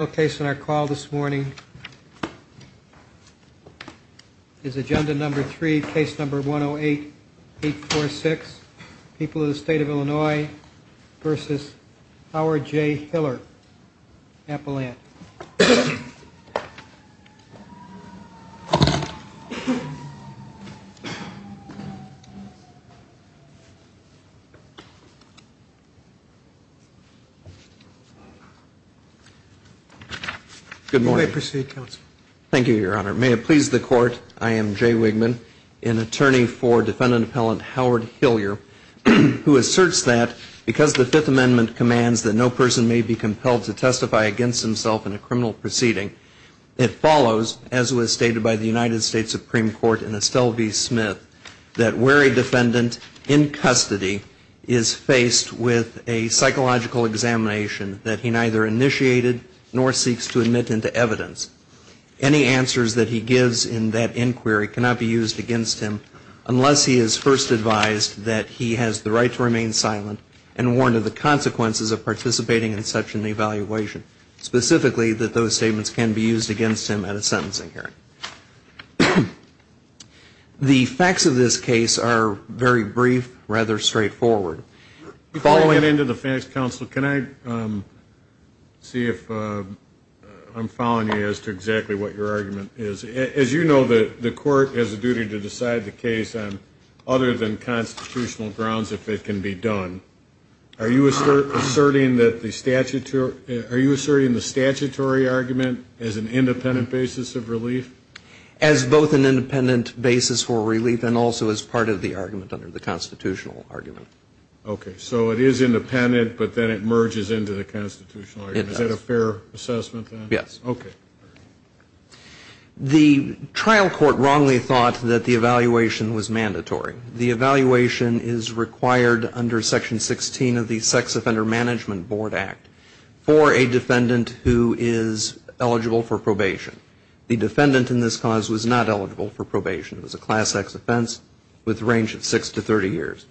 Okay, so our call this morning is agenda number three, case number 108-846, People of the State of Illinois v. Howard J. Hillier, Appalachia. Good morning. May I proceed, Counsel? Thank you, Your Honor. May it please the Court, I am Jay Wigman, an attorney for defendant appellant Howard Hillier, who asserts that because the Fifth Amendment commands that no person may be compelled to testify against himself in a criminal proceeding, it follows, as was stated by the United States Supreme Court in Estelle v. Smith, that where a defendant in custody is faced with a psychological examination that he neither initiated nor seeks to admit into evidence, any answers that he gives in that inquiry cannot be used against him unless he is first advised that he has the right to remain silent and warned of the consequences of participating in such an evaluation. Specifically, that those statements can be used against him at a sentencing hearing. The facts of this case are very brief, rather straightforward. Following into the facts, Counsel, can I see if I'm following you as to exactly what your argument is? As you know, the Court has a duty to decide the case on other than constitutional grounds if it can be done. Are you asserting that the statutory argument is an independent basis of relief? As both an independent basis for relief and also as part of the argument under the constitutional argument. Okay, so it is independent, but then it merges into the constitutional argument. Is that a fair assessment, then? Yes. Okay. The trial court wrongly thought that the evaluation was mandatory. The evaluation is required under Section 16 of the Sex Offender Management Board Act for a defendant who is eligible for probation. The defendant in this cause was not eligible for probation. It was a Class X offense with a range of 6 to 30 years.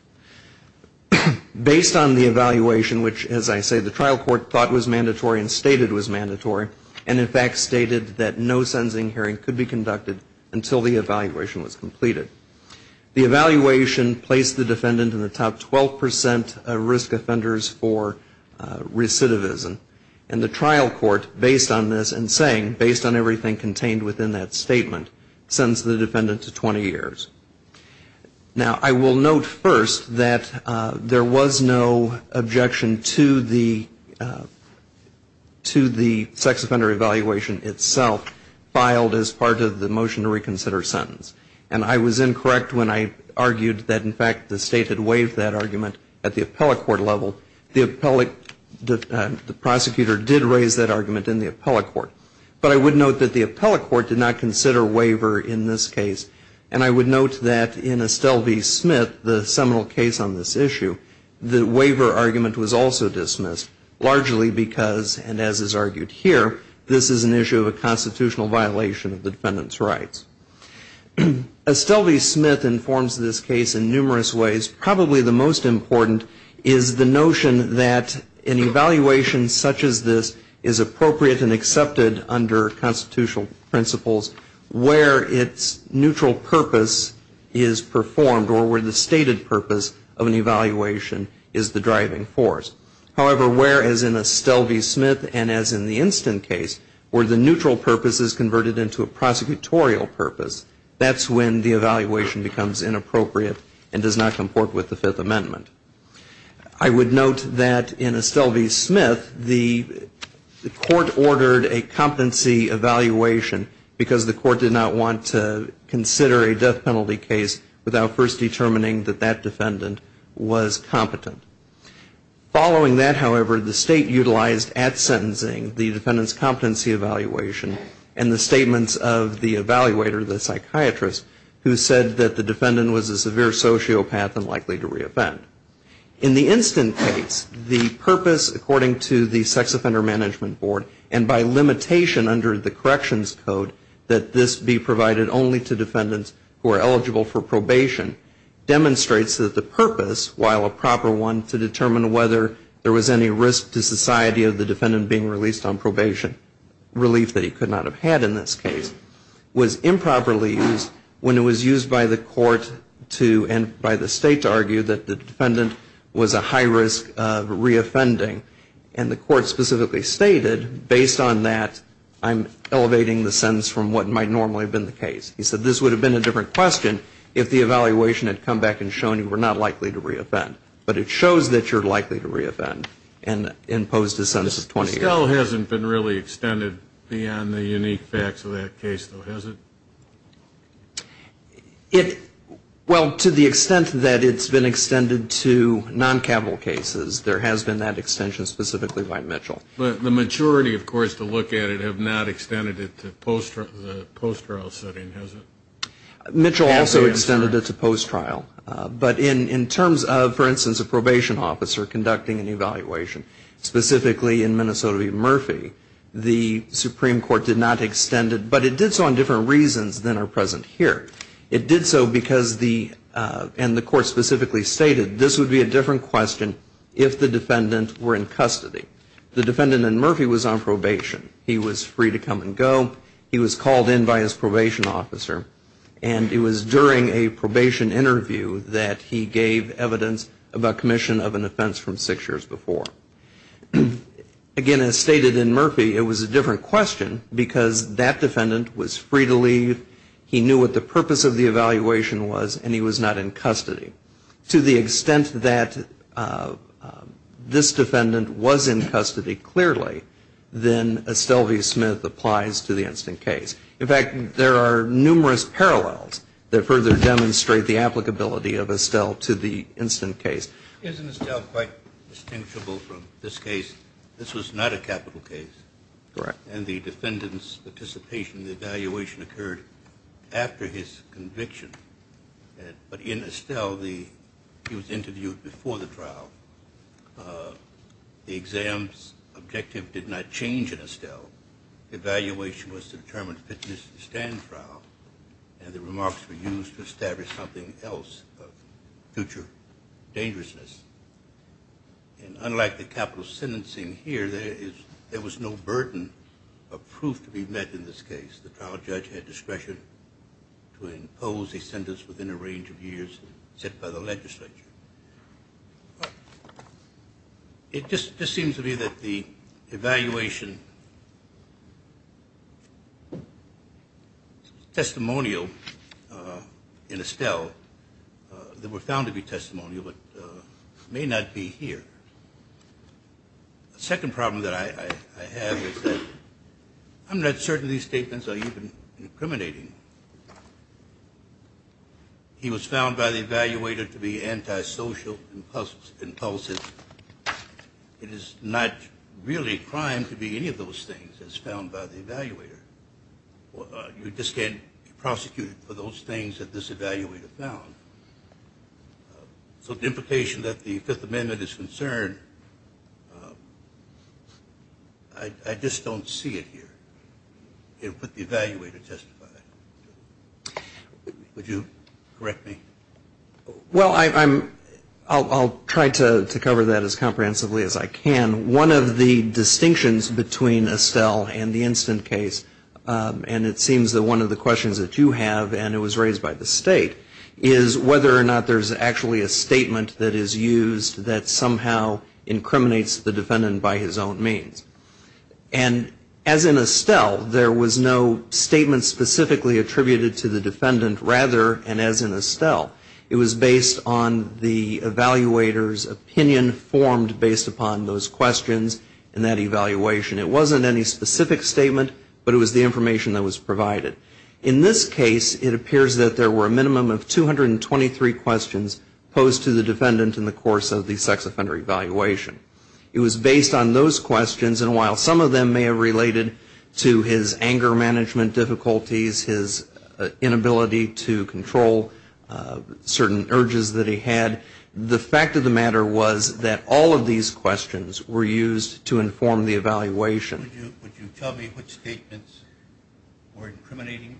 Based on the evaluation, which, as I say, the trial court thought was mandatory and stated was mandatory, and in fact stated that no sentencing hearing could be conducted until the evaluation was completed. The evaluation placed the defendant in the top 12% of risk offenders for recidivism. And the trial court, based on this and saying, based on everything contained within that statement, sentenced the defendant to 20 years. Now, I will note first that there was no objection to the sex offender evaluation itself filed as part of the motion to reconsider sentence. And I was incorrect when I argued that, in fact, the state had waived that argument at the appellate court level. The prosecutor did raise that argument in the appellate court. But I would note that the appellate court did not consider waiver in this case. And I would note that in Estelle v. Smith, the seminal case on this issue, the waiver argument was also dismissed, largely because, and as is argued here, this is an issue of a constitutional violation of the defendant's rights. Estelle v. Smith informs this case in numerous ways. Probably the most important is the notion that an evaluation such as this is appropriate and accepted under constitutional principles where its neutral purpose is performed or where the stated purpose of an evaluation is the driving force. However, where, as in Estelle v. Smith and as in the instant case, where the neutral purpose is converted into a prosecutorial purpose, that's when the evaluation becomes inappropriate and does not comport with the Fifth Amendment. I would note that in Estelle v. Smith, the court ordered a competency evaluation because the court did not want to consider a death penalty case without first determining that that defendant was competent. Following that, however, the state utilized at sentencing the defendant's competency evaluation and the statements of the evaluator, the psychiatrist, who said that the defendant was a severe sociopath and likely to reoffend. In the instant case, the purpose, according to the Sex Offender Management Board, and by limitation under the corrections code that this be provided only to defendants who are eligible for probation, demonstrates that the purpose, while a proper one to determine whether there was any risk to society of the defendant being released on probation, relief that he could not have had in this case, was improperly used when it was used by the court to, and by the state to argue, that the defendant was a high risk of reoffending. And the court specifically stated, based on that, I'm elevating the sentence from what might normally have been the case. He said this would have been a different question if the evaluation had come back and shown you were not likely to reoffend. But it shows that you're likely to reoffend and imposed a sentence of 20 years. This still hasn't been really extended beyond the unique facts of that case, though, has it? It, well, to the extent that it's been extended to noncapital cases, there has been that extension specifically by Mitchell. But the maturity, of course, to look at it have not extended it to the post-trial setting, has it? Mitchell also extended it to post-trial. But in terms of, for instance, a probation officer conducting an evaluation, specifically in Minnesota v. Murphy, the Supreme Court did not extend it. But it did so on different reasons than are present here. It did so because the, and the court specifically stated, this would be a different question if the defendant were in custody. He was free to come and go. He was called in by his probation officer. And it was during a probation interview that he gave evidence about commission of an offense from six years before. Again, as stated in Murphy, it was a different question because that defendant was free to leave, he knew what the purpose of the evaluation was, and he was not in custody. To the extent that this defendant was in custody clearly, then Estelle v. Smith applies to the instant case. In fact, there are numerous parallels that further demonstrate the applicability of Estelle to the instant case. Isn't Estelle quite distinguishable from this case? This was not a capital case. Correct. And the defendant's participation in the evaluation occurred after his conviction. But in Estelle, he was interviewed before the trial. The exam's objective did not change in Estelle. Evaluation was to determine fitness in the stand trial, and the remarks were used to establish something else of future dangerousness. And unlike the capital sentencing here, there was no burden of proof to be met in this case. The trial judge had discretion to impose a sentence within a range of years set by the legislature. It just seems to me that the evaluation is testimonial in Estelle. They were found to be testimonial but may not be here. The second problem that I have is that I'm not certain these statements are even incriminating. He was found by the evaluator to be antisocial, impulsive. It is not really a crime to be any of those things as found by the evaluator. You just can't prosecute for those things that this evaluator found. So the implication that the Fifth Amendment is concerned, I just don't see it here. The evaluator testified. Would you correct me? Well, I'll try to cover that as comprehensively as I can. One of the distinctions between Estelle and the instant case, and it seems that one of the questions that you have and it was raised by the state, is whether or not there's actually a statement that is used that somehow incriminates the defendant by his own means. And as in Estelle, there was no statement specifically attributed to the defendant, rather, and as in Estelle, it was based on the evaluator's opinion formed based upon those questions and that evaluation. It wasn't any specific statement, but it was the information that was provided. In this case, it appears that there were a minimum of 223 questions posed to the defendant in the course of the sex offender evaluation. It was based on those questions, and while some of them may have related to his anger management difficulties, his inability to control certain urges that he had, the fact of the matter was that all of these questions were used to inform the evaluation. Would you tell me which statements were incriminating?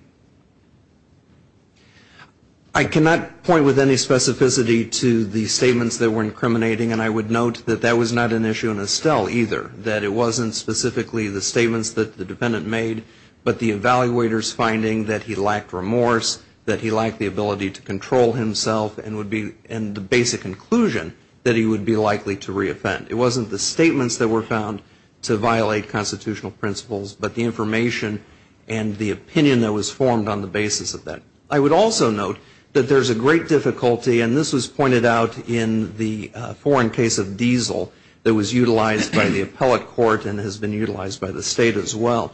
I cannot point with any specificity to the statements that were incriminating, and I would note that that was not an issue in Estelle either, that it wasn't specifically the statements that the defendant made, but the evaluator's finding that he lacked remorse, that he lacked the ability to control himself, and the basic conclusion that he would be likely to reoffend. It wasn't the statements that were found to violate constitutional principles, but the information and the opinion that was formed on the basis of that. I would also note that there's a great difficulty, and this was pointed out in the foreign case of Diesel that was utilized by the appellate court and has been utilized by the State as well.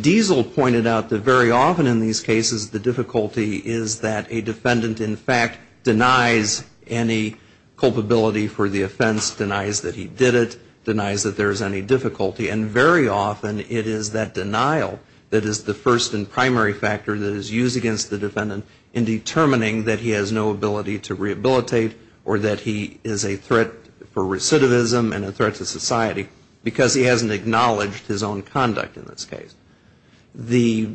Diesel pointed out that very often in these cases the difficulty is that a defendant, in fact, denies any culpability for the offense, denies that he did it, denies that there is any difficulty, and very often it is that denial that is the first and primary factor that is used against the defendant in determining that he has no ability to rehabilitate or that he is a threat for recidivism and a threat to society because he hasn't acknowledged his own conduct in this case. The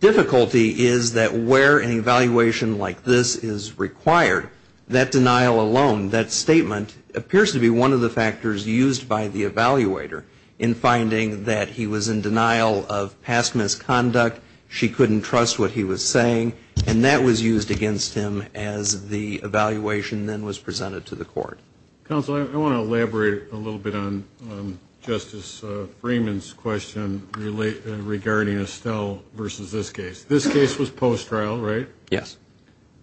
difficulty is that where an evaluation like this is required, that denial alone, that statement appears to be one of the factors used by the evaluator in finding that he was in denial of past misconduct, she couldn't trust what he was saying, and that was used against him as the evaluation then was presented to the court. Counsel, I want to elaborate a little bit on Justice Freeman's question regarding Estelle versus this case. This case was post-trial, right? Yes.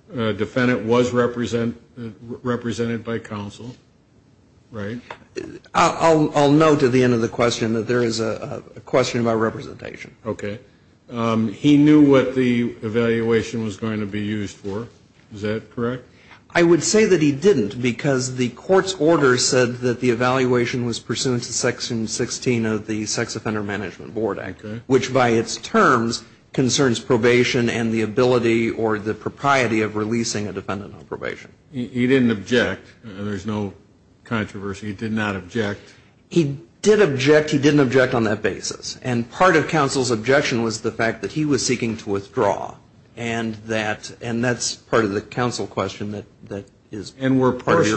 The defendant was represented by counsel, right? I'll note at the end of the question that there is a question about representation. Okay. He knew what the evaluation was going to be used for. Is that correct? I would say that he didn't because the court's order said that the evaluation was pursuant to Section 16 of the Sex Offender Management Board Act, which by its terms concerns probation and the ability or the propriety of releasing a defendant on probation. He didn't object. There's no controversy. He did not object. He did object. He didn't object on that basis. And part of counsel's objection was the fact that he was seeking to withdraw, and that's part of the counsel question that is part of your question. And were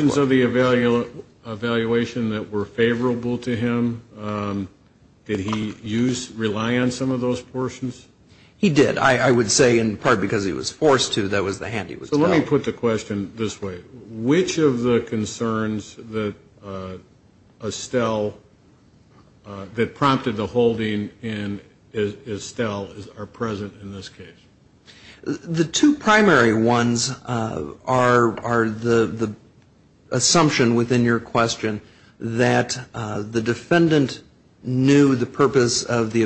portions of the evaluation that were favorable to him? Did he rely on some of those portions? He did. I would say in part because he was forced to. That was the hand he was held. So let me put the question this way. Which of the concerns that Estelle, that prompted the holding in Estelle are present in this case? The two primary ones are the assumption within your question that the defendant knew the purpose of the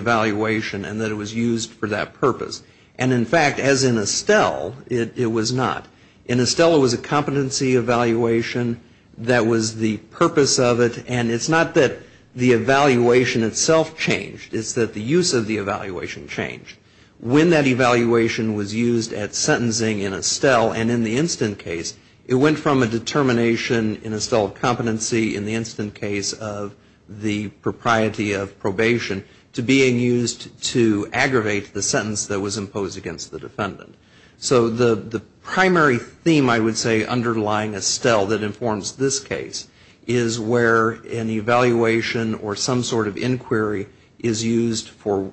And, in fact, as in Estelle, it was not. In Estelle, it was a competency evaluation that was the purpose of it, and it's not that the evaluation itself changed. It's that the use of the evaluation changed. When that evaluation was used at sentencing in Estelle and in the instant case, it went from a determination in Estelle of competency in the instant case of the propriety of probation to being used to aggravate the sentence that was imposed against the defendant. So the primary theme, I would say, underlying Estelle that informs this case is where an evaluation or some sort of inquiry is used for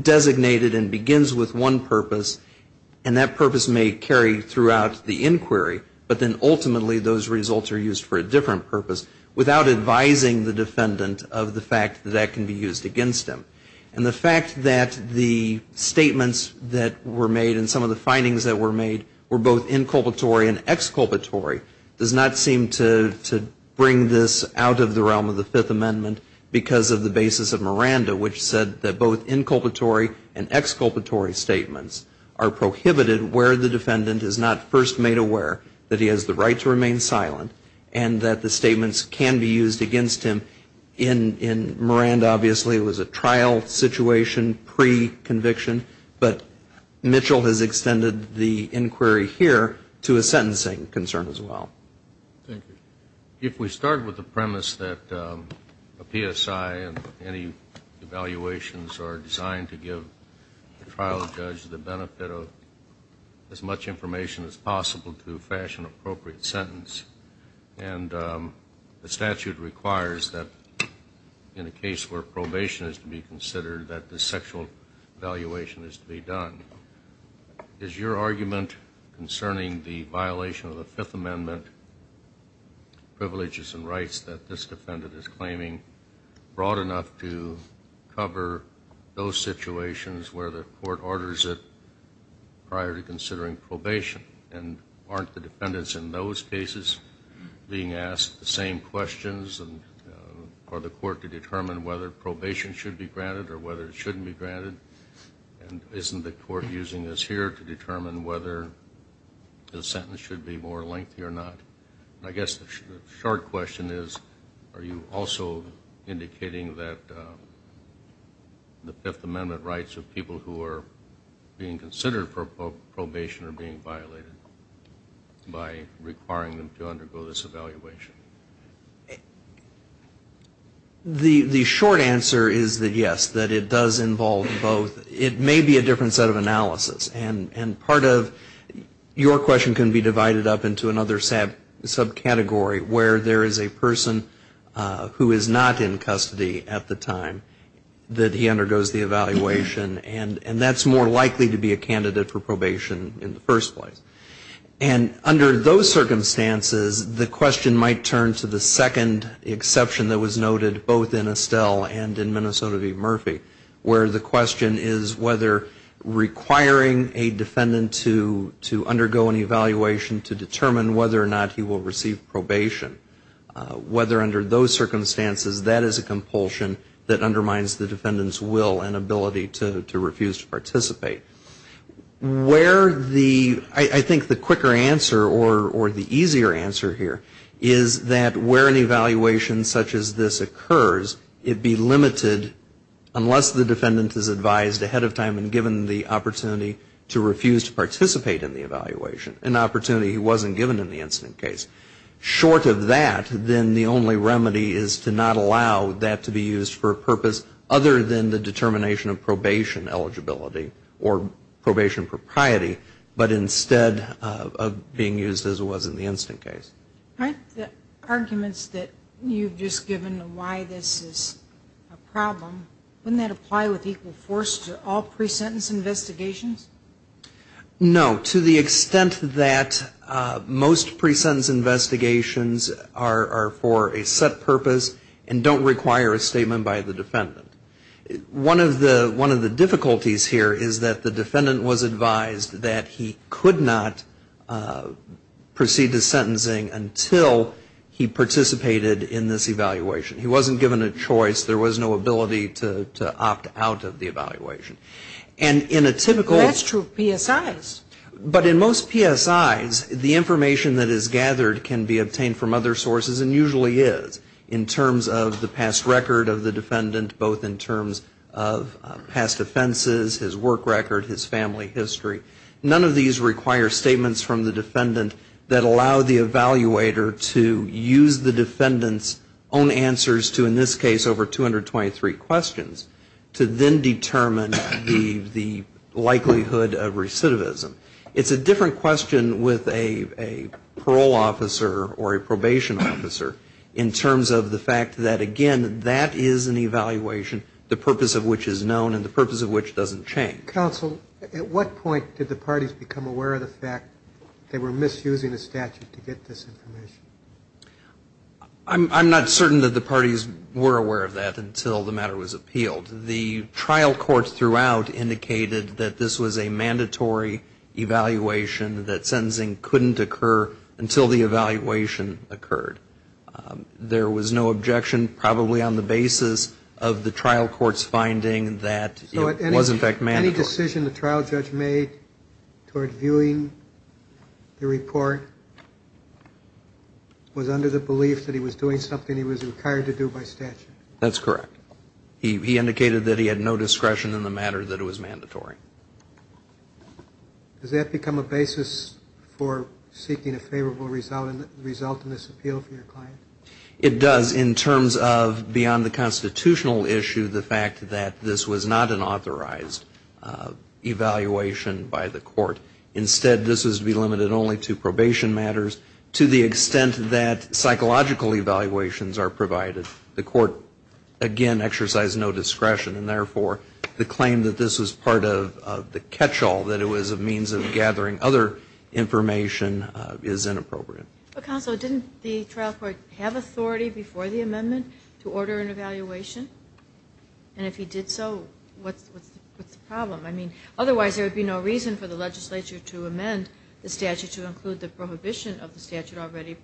designated and begins with one purpose, and that purpose may carry throughout the inquiry, but then ultimately those results are used for a different purpose without advising the defendant of the fact that that can be used against them. And the fact that the statements that were made and some of the findings that were made were both inculpatory and exculpatory does not seem to bring this out of the realm of the Fifth Amendment because of the basis of Miranda, which said that both inculpatory and exculpatory statements are prohibited where the defendant is not first made aware that he has the right to remain silent and that the statements can be used against him. In Miranda, obviously, it was a trial situation pre-conviction, but Mitchell has extended the inquiry here to a sentencing concern as well. Thank you. If we start with the premise that a PSI and any evaluations are designed to give the trial judge the benefit of as much information as possible to fashion an appropriate sentence, and the statute requires that in a case where probation is to be considered that the sexual evaluation is to be done, is your argument concerning the violation of the Fifth Amendment privileges and rights that this defendant is claiming broad enough to cover those situations where the court orders it prior to considering probation? And aren't the defendants in those cases being asked the same questions? Are the court to determine whether probation should be granted or whether it shouldn't be granted? And isn't the court using this here to determine whether the sentence should be more lengthy or not? I guess the short question is, are you also indicating that the Fifth Amendment rights of people who are being considered for probation are being violated by requiring them to undergo this evaluation? The short answer is that yes, that it does involve both. It may be a different set of analysis. And part of your question can be divided up into another subcategory where there is a person who is not in custody at the time that he undergoes the evaluation, and that's more likely to be a candidate for probation in the first place. And under those circumstances, the question might turn to the second exception that was noted both in Estelle and in Minnesota v. Murphy where the question is whether requiring a defendant to undergo an evaluation to determine whether or not he will receive probation, whether under those circumstances that is a compulsion that undermines the defendant's will and ability to refuse to participate. Where the, I think the quicker answer or the easier answer here is that where an evaluation such as this occurs, it be limited unless the defendant is advised ahead of time and given the opportunity to refuse to participate in the evaluation, an opportunity he wasn't given in the incident case. Short of that, then the only remedy is to not allow that to be used for a purpose other than the determination of probation eligibility or probation propriety, but instead of being used as it was in the incident case. Aren't the arguments that you've just given why this is a problem, wouldn't that apply with equal force to all pre-sentence investigations? No. To the extent that most pre-sentence investigations are for a set purpose and don't require a statement by the defendant. One of the difficulties here is that the defendant was advised that he could not proceed to sentencing until he participated in this evaluation. He wasn't given a choice. There was no ability to opt out of the evaluation. And in a typical. That's true of PSIs. But in most PSIs, the information that is gathered can be obtained from other sources and usually is in terms of the past record of the defendant, both in terms of past offenses, his work record, his family history. None of these require statements from the defendant that allow the evaluator to use the defendant's own answers to in this case over 223 questions to then determine the likelihood of recidivism. It's a different question with a parole officer or a probation officer in terms of the fact that, again, that is an evaluation, the purpose of which is known and the purpose of which doesn't change. Counsel, at what point did the parties become aware of the fact they were misusing the statute to get this information? I'm not certain that the parties were aware of that until the matter was appealed. The trial courts throughout indicated that this was a mandatory evaluation, that sentencing couldn't occur until the evaluation occurred. There was no objection probably on the basis of the trial court's finding that it was in fact mandatory. So any decision the trial judge made toward viewing the report was under the belief that he was doing something he was required to do by statute? That's correct. He indicated that he had no discretion in the matter, that it was mandatory. Does that become a basis for seeking a favorable result in this appeal for your client? It does. In terms of beyond the constitutional issue, the fact that this was not an authorized evaluation by the court. Instead, this was to be limited only to probation matters. To the extent that psychological evaluations are provided, the court, again, exercised no discretion and, therefore, the claim that this was part of the catch-all, that it was a means of gathering other information, is inappropriate. Counsel, didn't the trial court have authority before the amendment to order an evaluation? And if he did so, what's the problem? I mean, otherwise there would be no reason for the legislature to amend the statute to include the prohibition of the statute already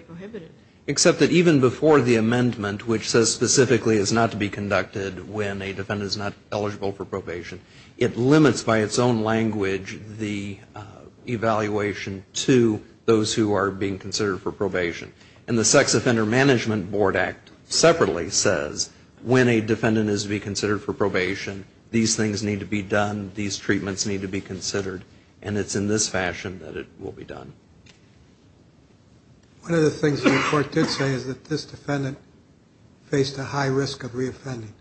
prohibited. Except that even before the amendment, which says specifically it's not to be conducted when a defendant is not eligible for probation, it limits by its own language the evaluation to those who are being considered for probation. And the Sex Offender Management Board Act separately says when a defendant is to be considered for probation, these things need to be done, these treatments need to be considered, and it's in this fashion that it will be done. One of the things the report did say is that this defendant faced a high risk of reoffending.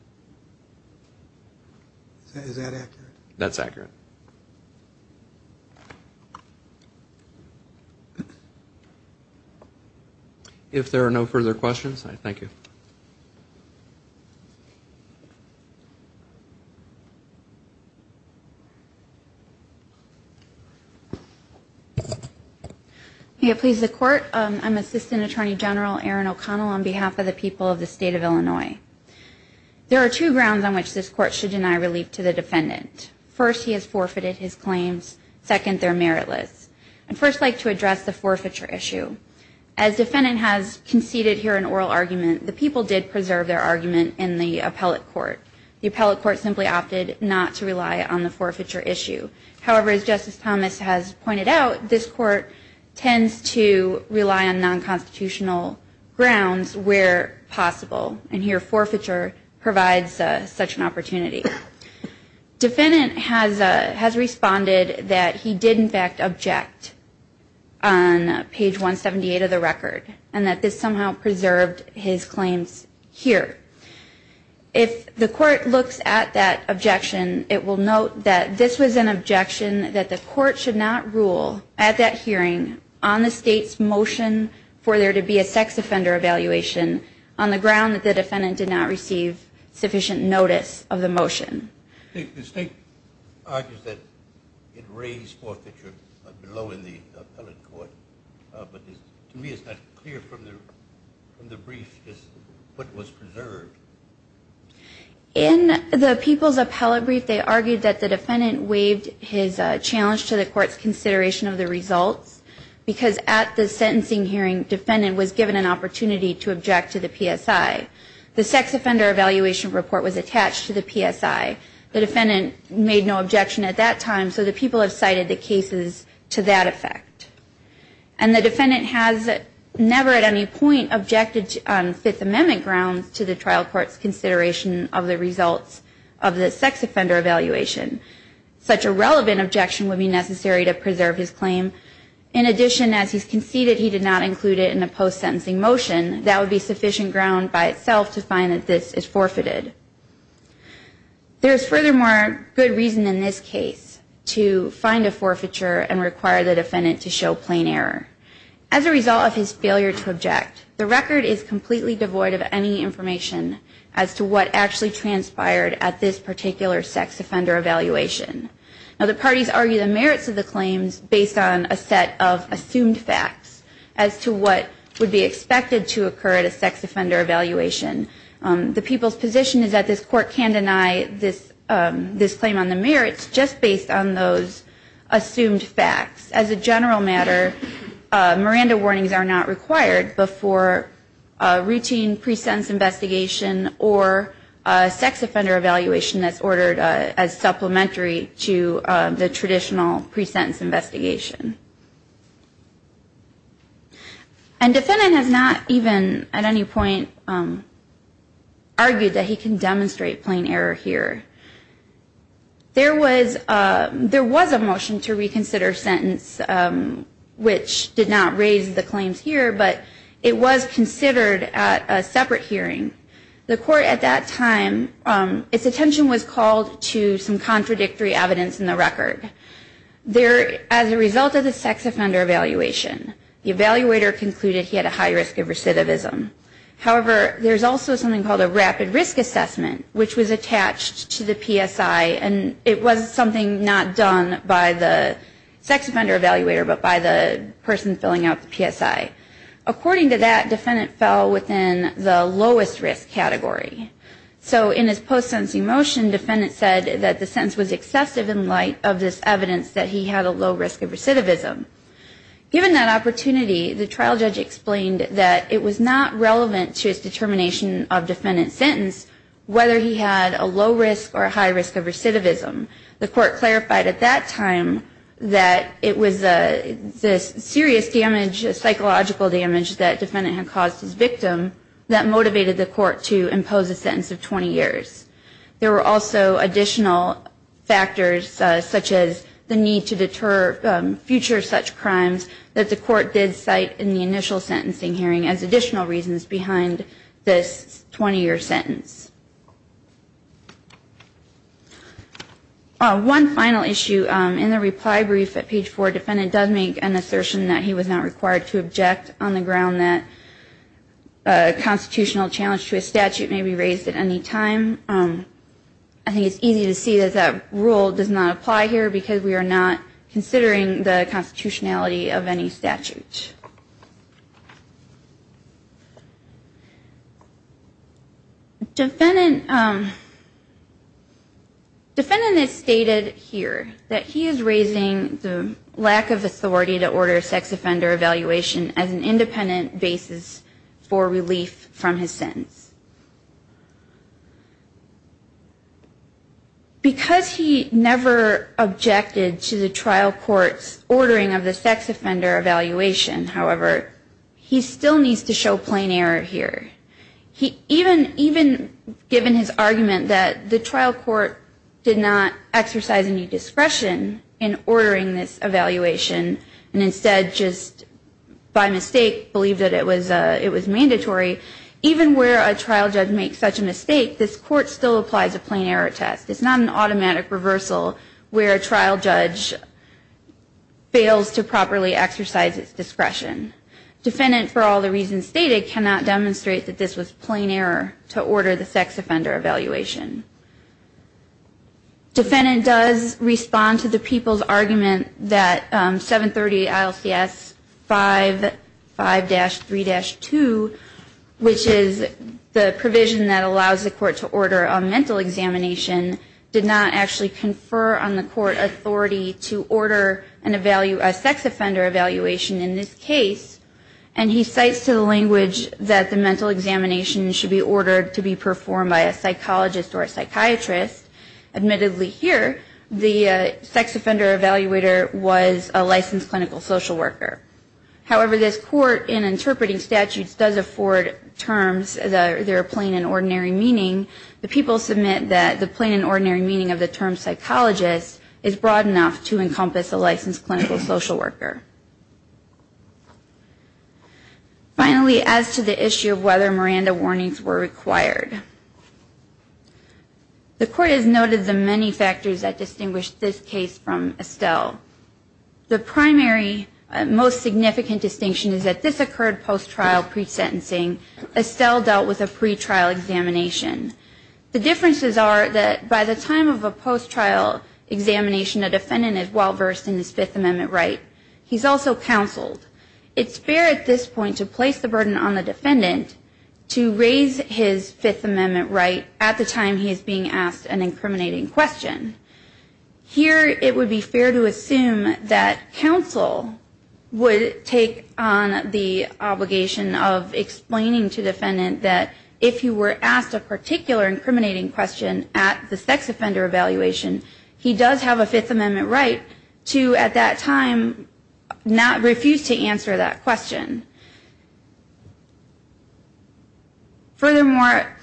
Is that accurate? That's accurate. If there are no further questions, I thank you. May it please the Court. I'm Assistant Attorney General Erin O'Connell on behalf of the people of the State of Illinois. There are two grounds on which this Court should deny relief to the defendant. First, he has forfeited his claims. Second, they're meritless. I'd first like to address the forfeiture issue. As defendant has conceded here an oral argument, the people did preserve their argument in the appellate court. The appellate court simply opted not to rely on the forfeiture issue. However, as Justice Thomas has pointed out, this Court tends to rely on non-constitutional grounds where possible, and here forfeiture provides such an opportunity. Defendant has responded that he did, in fact, object on page 178 of the record, and that this somehow preserved his claims here. If the Court looks at that objection, it will note that this was an objection that the Court should not rule at that hearing on the State's motion for there to be a sex offender evaluation on the ground that the defendant did not receive sufficient notice of the motion. The State argues that it raised forfeiture below in the appellate court, but to me it's not clear from the brief what was preserved. In the people's appellate brief, they argued that the defendant waived his challenge to the Court's consideration of the results because at the sentencing hearing, defendant was given an opportunity to object to the PSI. The sex offender evaluation report was attached to the PSI. The defendant made no objection at that time, so the people have cited the cases to that effect. And the defendant has never at any point objected on Fifth Amendment grounds to the trial court's consideration of the results of the sex offender evaluation. Such a relevant objection would be necessary to preserve his claim. In addition, as he's conceded he did not include it in a post-sentencing motion, that would be sufficient ground by itself to find that this is forfeited. There is furthermore good reason in this case to find a forfeiture and require the defendant to show plain error. As a result of his failure to object, the record is completely devoid of any information as to what actually transpired at this particular sex offender evaluation. Now the parties argue the merits of the claims based on a set of assumed facts as to what would be expected to occur at a sex offender evaluation. The people's position is that this court can deny this claim on the merits just based on those assumed facts. As a general matter, Miranda warnings are not required before a routine pre-sentence investigation or a sex offender evaluation that's ordered as supplementary to the traditional pre-sentence investigation. And defendant has not even at any point argued that he can demonstrate plain error here. There was a motion to reconsider sentence which did not raise the claims here, but it was considered at a separate hearing. The court at that time, its attention was called to some contradictory evidence in the record. As a result of the sex offender evaluation, the evaluator concluded he had a high risk of recidivism. However, there's also something called a rapid risk assessment which was attached to the PSI and it was something not done by the sex offender evaluator but by the person filling out the PSI. According to that, defendant fell within the lowest risk category. So in his post-sentencing motion, defendant said that the sentence was excessive in light of this evidence that he had a low risk of recidivism. Given that opportunity, the trial judge explained that it was not relevant to his determination of defendant's sentence whether he had a low risk or a high risk of recidivism. The court clarified at that time that it was this serious damage, psychological damage, that defendant had caused his victim that motivated the court to impose a sentence of 20 years. There were also additional factors such as the need to deter future such crimes that the court did cite in the initial sentencing hearing as additional reasons behind this 20-year sentence. One final issue in the reply brief at page 4, defendant does make an assertion that he was not required to object on the ground that a constitutional challenge to a statute may be raised at any time. I think it's easy to see that that rule does not apply here because we are not considering the constitutionality of any statute. Defendant has stated here that he is raising the lack of authority to order sex offender evaluation as an independent basis for relief from his sentence. Because he never objected to the trial court's ordering of the sex offender evaluation, however, he still needs to show plain error here. Even given his argument that the trial court did not exercise any discretion in ordering this evaluation, and instead just by mistake believed that it was mandatory, even where a trial judge makes such a mistake, this court still applies a plain error test. It's not an automatic reversal where a trial judge fails to properly exercise its discretion. Defendant, for all the reasons stated, cannot demonstrate that this was plain error to order the sex offender evaluation. Defendant does respond to the people's argument that 730 ILCS 55-3-2, which is the provision that allows the court to order a mental examination, did not actually confer on the court authority to order a sex offender evaluation in this case, and he cites to the language that the mental examination should be ordered to be performed by a psychologist or a psychiatrist. Admittedly, here, the sex offender evaluator was a licensed clinical social worker. However, this court, in interpreting statutes, does afford terms that are plain and ordinary meaning. The people submit that the plain and ordinary meaning of the term psychologist is broad enough to encompass a licensed clinical social worker. Finally, as to the issue of whether Miranda warnings were required, the court has noted the many factors that distinguish this case from Estelle. The primary most significant distinction is that this occurred post-trial pre-sentencing. Estelle dealt with a pre-trial examination. The differences are that by the time of a post-trial examination, a defendant is well-versed in his Fifth Amendment right. He's also counseled. It's fair at this point to place the burden on the defendant to raise his Fifth Amendment right at the time he is being asked an incriminating question. Here, it would be fair to assume that counsel would take on the obligation of explaining to the defendant that if he were asked a particular incriminating question at the sex offender evaluation, he does have a Fifth Amendment right to at that time not refuse to answer that question. Furthermore,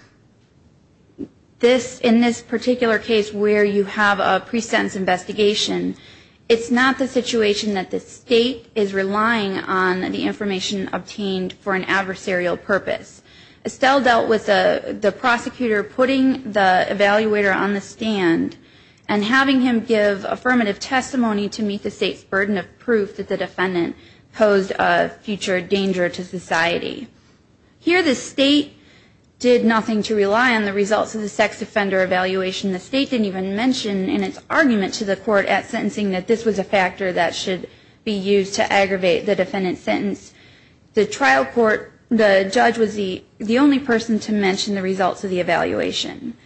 in this particular case where you have a pre-sentence investigation, it's not the situation that the state is relying on the information obtained for an adversarial purpose. Estelle dealt with the prosecutor putting the evaluator on the stand and having him give affirmative testimony to meet the state's burden of proof that the defendant posed a future danger to society. Here, the state did nothing to rely on the results of the sex offender evaluation. The state didn't even mention in its argument to the court at sentencing that this was a factor that should be used to aggravate the defendant's sentence. The trial court, the judge was the only person to mention the results of the evaluation.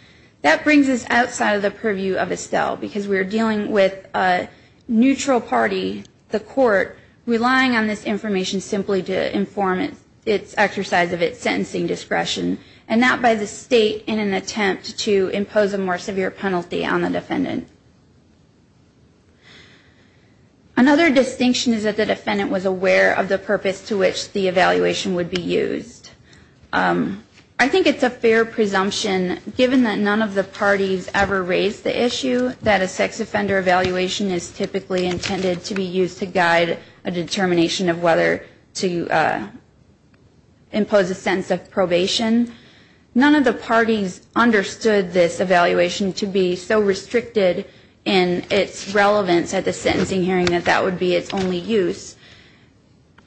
That brings us outside of the purview of Estelle because we are dealing with a neutral party, the court, relying on this information simply to inform its exercise of its sentencing discretion and not by the state in an attempt to impose a more severe penalty on the defendant. Another distinction is that the defendant was aware of the purpose to which the evaluation would be used. I think it's a fair presumption given that none of the parties ever raised the issue that a sex offender evaluation is typically intended to be used to guide a determination of whether to impose a sentence of probation. None of the parties understood this evaluation to be so restricted in its relevance at the sentencing hearing that that would be its only use.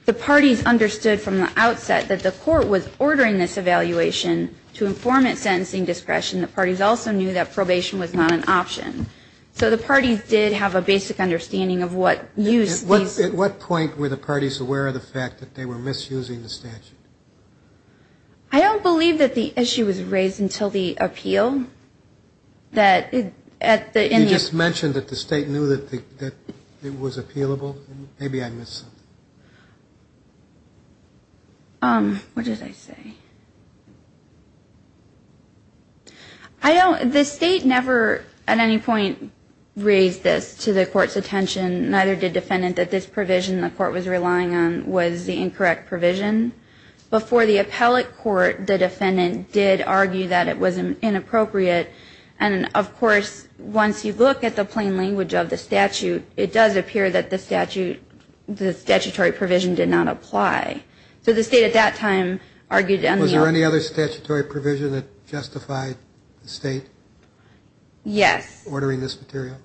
The parties understood from the outset that the court was ordering this evaluation to inform its sentencing discretion. The parties also knew that probation was not an option. So the parties did have a basic understanding of what use these. At what point were the parties aware of the fact that they were misusing the statute? I don't believe that the issue was raised until the appeal. You just mentioned that the state knew that it was appealable. Maybe I missed something. What did I say? The state never at any point raised this to the court's attention, neither did the defendant, that this provision the court was relying on was the incorrect provision. Before the appellate court, the defendant did argue that it was inappropriate. And, of course, once you look at the plain language of the statute, it does appear that the statute, the statutory provision did not apply. So the state at that time argued. Was there any other statutory provision that justified the state ordering this material?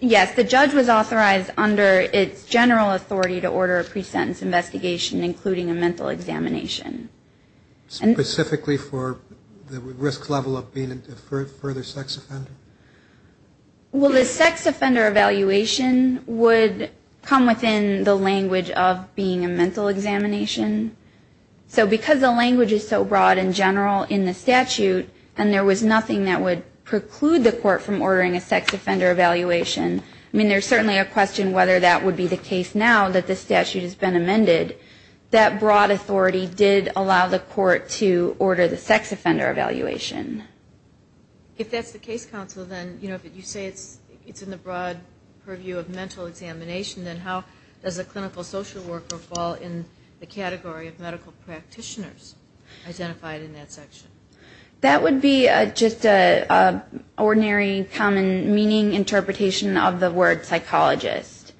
Yes, the judge was authorized under its general authority to order a pre-sentence investigation, including a mental examination. Specifically for the risk level of being a further sex offender? Well, the sex offender evaluation would come within the language of being a mental examination. So because the language is so broad and general in the statute, and there was nothing that would preclude the court from ordering a sex offender evaluation, I mean, there's certainly a question whether that would be the case now that the statute has been amended. That broad authority did allow the court to order the sex offender evaluation. If that's the case, counsel, then, you know, if you say it's in the broad purview of mental examination, then how does a clinical social worker fall in the category of medical practitioners identified in that section? That would be just an ordinary, common meaning interpretation of the word psychologist.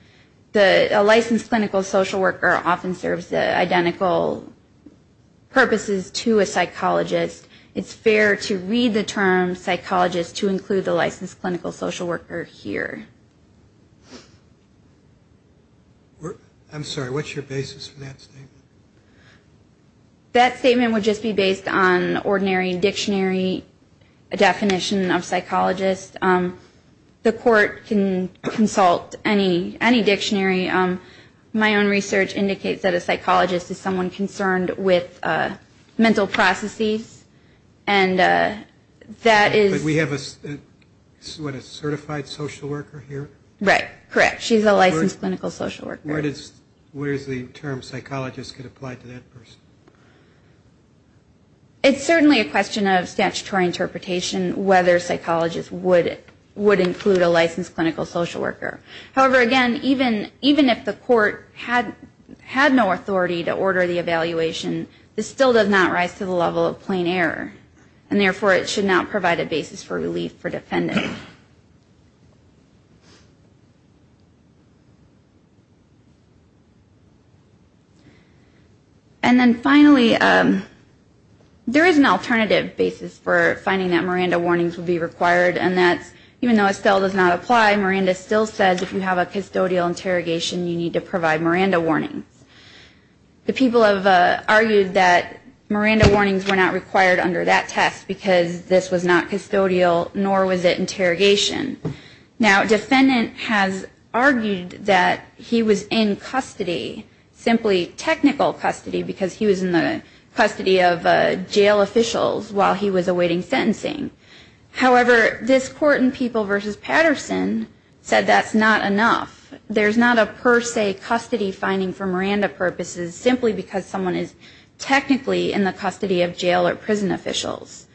A licensed clinical social worker often serves identical purposes to a psychologist. It's fair to read the term psychologist to include the licensed clinical social worker here. I'm sorry, what's your basis for that statement? That statement would just be based on ordinary dictionary definition of psychologist. The court can consult any dictionary. My own research indicates that a psychologist is someone concerned with mental processes, and that is... Did we have a, what, a certified social worker here? Right, correct. She's a licensed clinical social worker. Where does the term psychologist get applied to that person? It's certainly a question of statutory interpretation whether psychologist would include a licensed clinical social worker. However, again, even if the court had no authority to order the evaluation, this still does not rise to the level of plain error, and therefore it should not provide a basis for relief for defendants. And then finally, there is an alternative basis for finding that Miranda warnings would be required, and that's even though Estelle does not apply, Miranda still says if you have a custodial interrogation, you need to provide Miranda warnings. The people have argued that Miranda warnings were not required under that test, because this was not custodial, nor was it interrogation. Now, defendant has argued that he was in custody, simply technical custody, because he was in the custody of jail officials while he was awaiting sentencing. However, this court in People v. Patterson said that's not enough. There's not a per se custody finding for Miranda purposes, simply because someone is technically in the custody of jail or prison officials.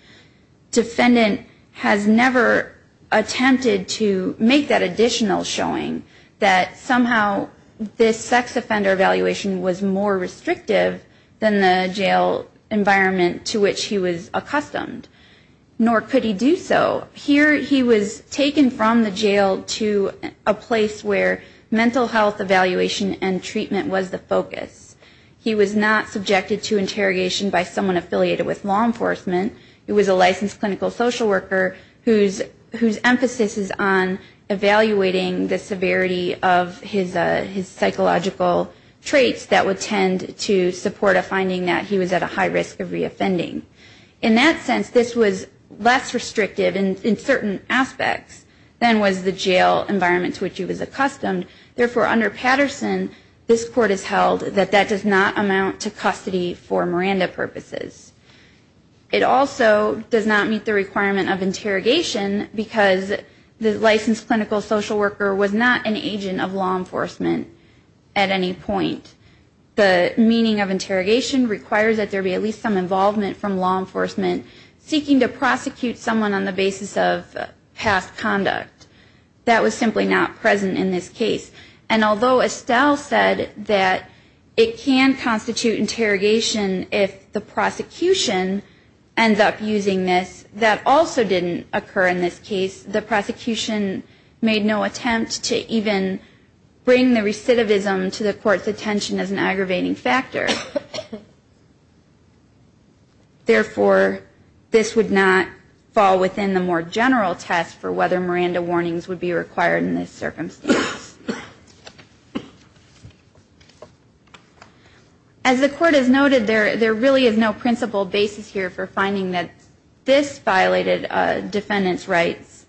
Defendant has never attempted to make that additional showing that somehow this sex offender evaluation was more restrictive than the jail environment to which he was accustomed, nor could he do so. Here he was taken from the jail to a place where mental health evaluation and treatment was the focus. He was not subjected to interrogation by someone affiliated with law enforcement. He was a licensed clinical social worker whose emphasis is on evaluating the severity of his psychological traits that would tend to support a finding that he was at a high risk of reoffending. In that sense, this was less restrictive in certain aspects than was the jail environment to which he was accustomed. Therefore, under Patterson, this court has held that that does not amount to custody for Miranda purposes. It also does not meet the requirement of interrogation, because the licensed clinical social worker was not an agent of law enforcement at any point. The meaning of interrogation requires that there be at least some involvement from law enforcement seeking to prosecute someone on the basis of past conduct. That was simply not present in this case. And although Estelle said that it can constitute interrogation if the prosecution ends up using this, that also didn't occur in this case. The prosecution made no attempt to even bring the recidivism to the court's attention as an aggravating factor. Therefore, this would not fall within the more general test for whether Miranda warnings would be required in this circumstance. As the court has noted, there really is no principal basis here for finding that this violated defendant's rights.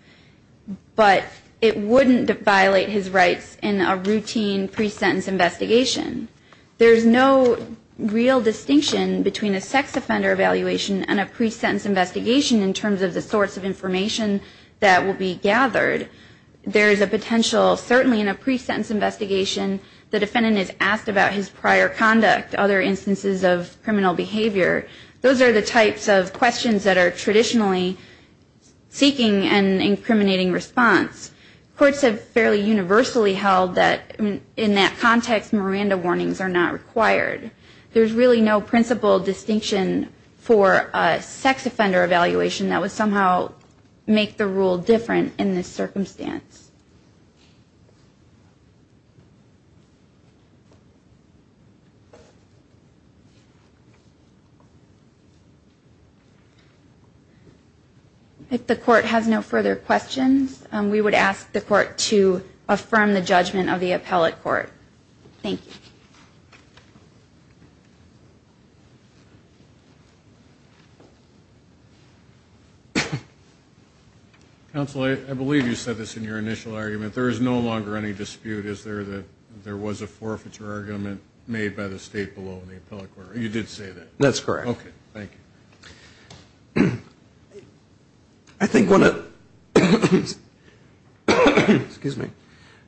But it wouldn't violate his rights in a routine pre-sentence investigation. There's no real distinction between a sex offender evaluation and a pre-sentence investigation in terms of the sorts of information that will be gathered. There is a potential, certainly in a pre-sentence investigation, the defendant is asked about his prior conduct, other instances of criminal behavior. Those are the types of questions that are traditionally seeking an incriminating response. Courts have fairly universally held that in that context Miranda warnings are not required. There's really no principal distinction for a sex offender evaluation that would somehow make the rule different in this circumstance. If the court has no further questions, we would ask the court to affirm the judgment of the appellate court. Thank you. Counsel, I believe you said this in your initial argument. There is no longer any dispute, is there, that there was a forfeiture argument made by the state below in the appellate court. You did say that.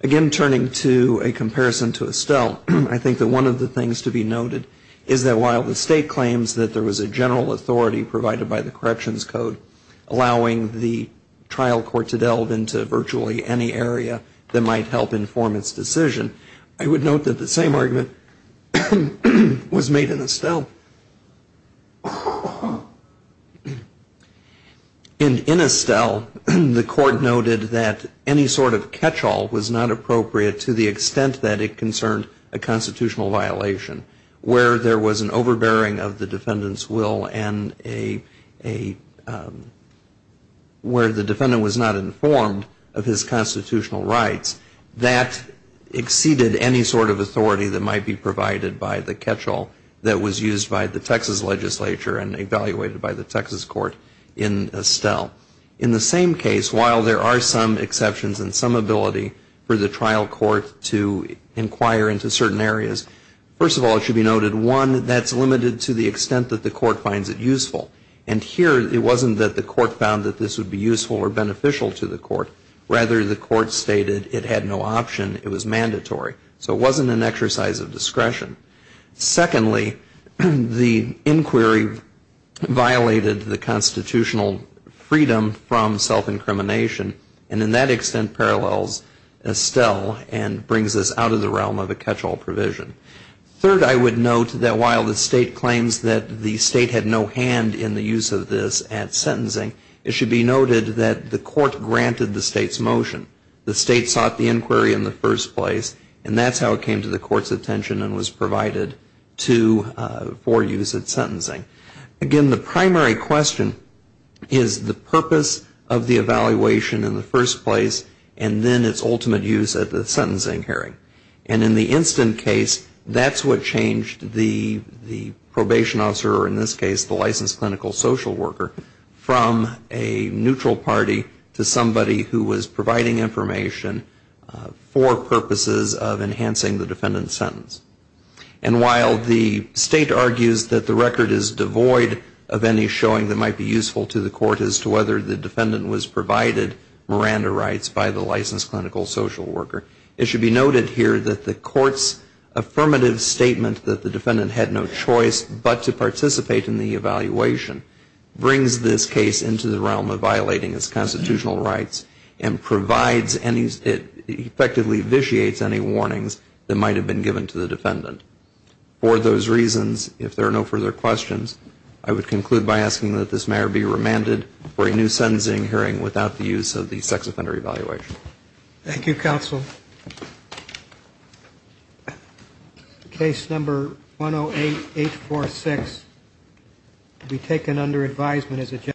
Again, turning to a comparison to Estelle, I think that one of the things to be noted is that while the state claims that there was a general authority provided by the corrections code allowing the trial court to delve into virtually any area that might help inform its decision, I would note that the same argument was made in Estelle. In Estelle, the court noted that any sort of catch-all was not appropriate to the extent that it concerned a constitutional violation, where there was an overbearing of the defendant's will and a, where the defendant was not informed of his constitutional rights. That exceeded any sort of authority that might be provided by the catch-all that was used by the Texas legislature and evaluated by the Texas court in Estelle. In the same case, while there are some exceptions and some ability for the trial court to inquire into certain areas, first of all, it should be noted, one, that's limited to the extent that the court finds it useful. And here, it wasn't that the court found that this would be useful or beneficial to the court. Rather, the court stated it had no option, it was mandatory. So it wasn't an exercise of discretion. Secondly, the inquiry violated the constitutional freedom from self-incrimination, and in that extent parallels Estelle and brings us out of the realm of a catch-all provision. Third, I would note that while the state claims that the state had no hand in the use of this at sentencing, it should be noted that the state's motion, the state sought the inquiry in the first place, and that's how it came to the court's attention and was provided for use at sentencing. Again, the primary question is the purpose of the evaluation in the first place, and then its ultimate use at the sentencing hearing. And in the instant case, that's what changed the probation officer, or in this case, the licensed clinical social worker, from a neutral party to somebody who was providing information for purposes of enhancing the defendant's sentence. And while the state argues that the record is devoid of any showing that might be useful to the court as to whether the defendant was provided Miranda rights by the licensed clinical social worker, it should be noted here that the court's affirmative statement that the violate the statute. It brings this case into the realm of violating its constitutional rights and provides any, effectively vitiates any warnings that might have been given to the defendant. For those reasons, if there are no further questions, I would conclude by asking that this matter be remanded for a new sentencing hearing without the use of the sex offender evaluation. Thank you.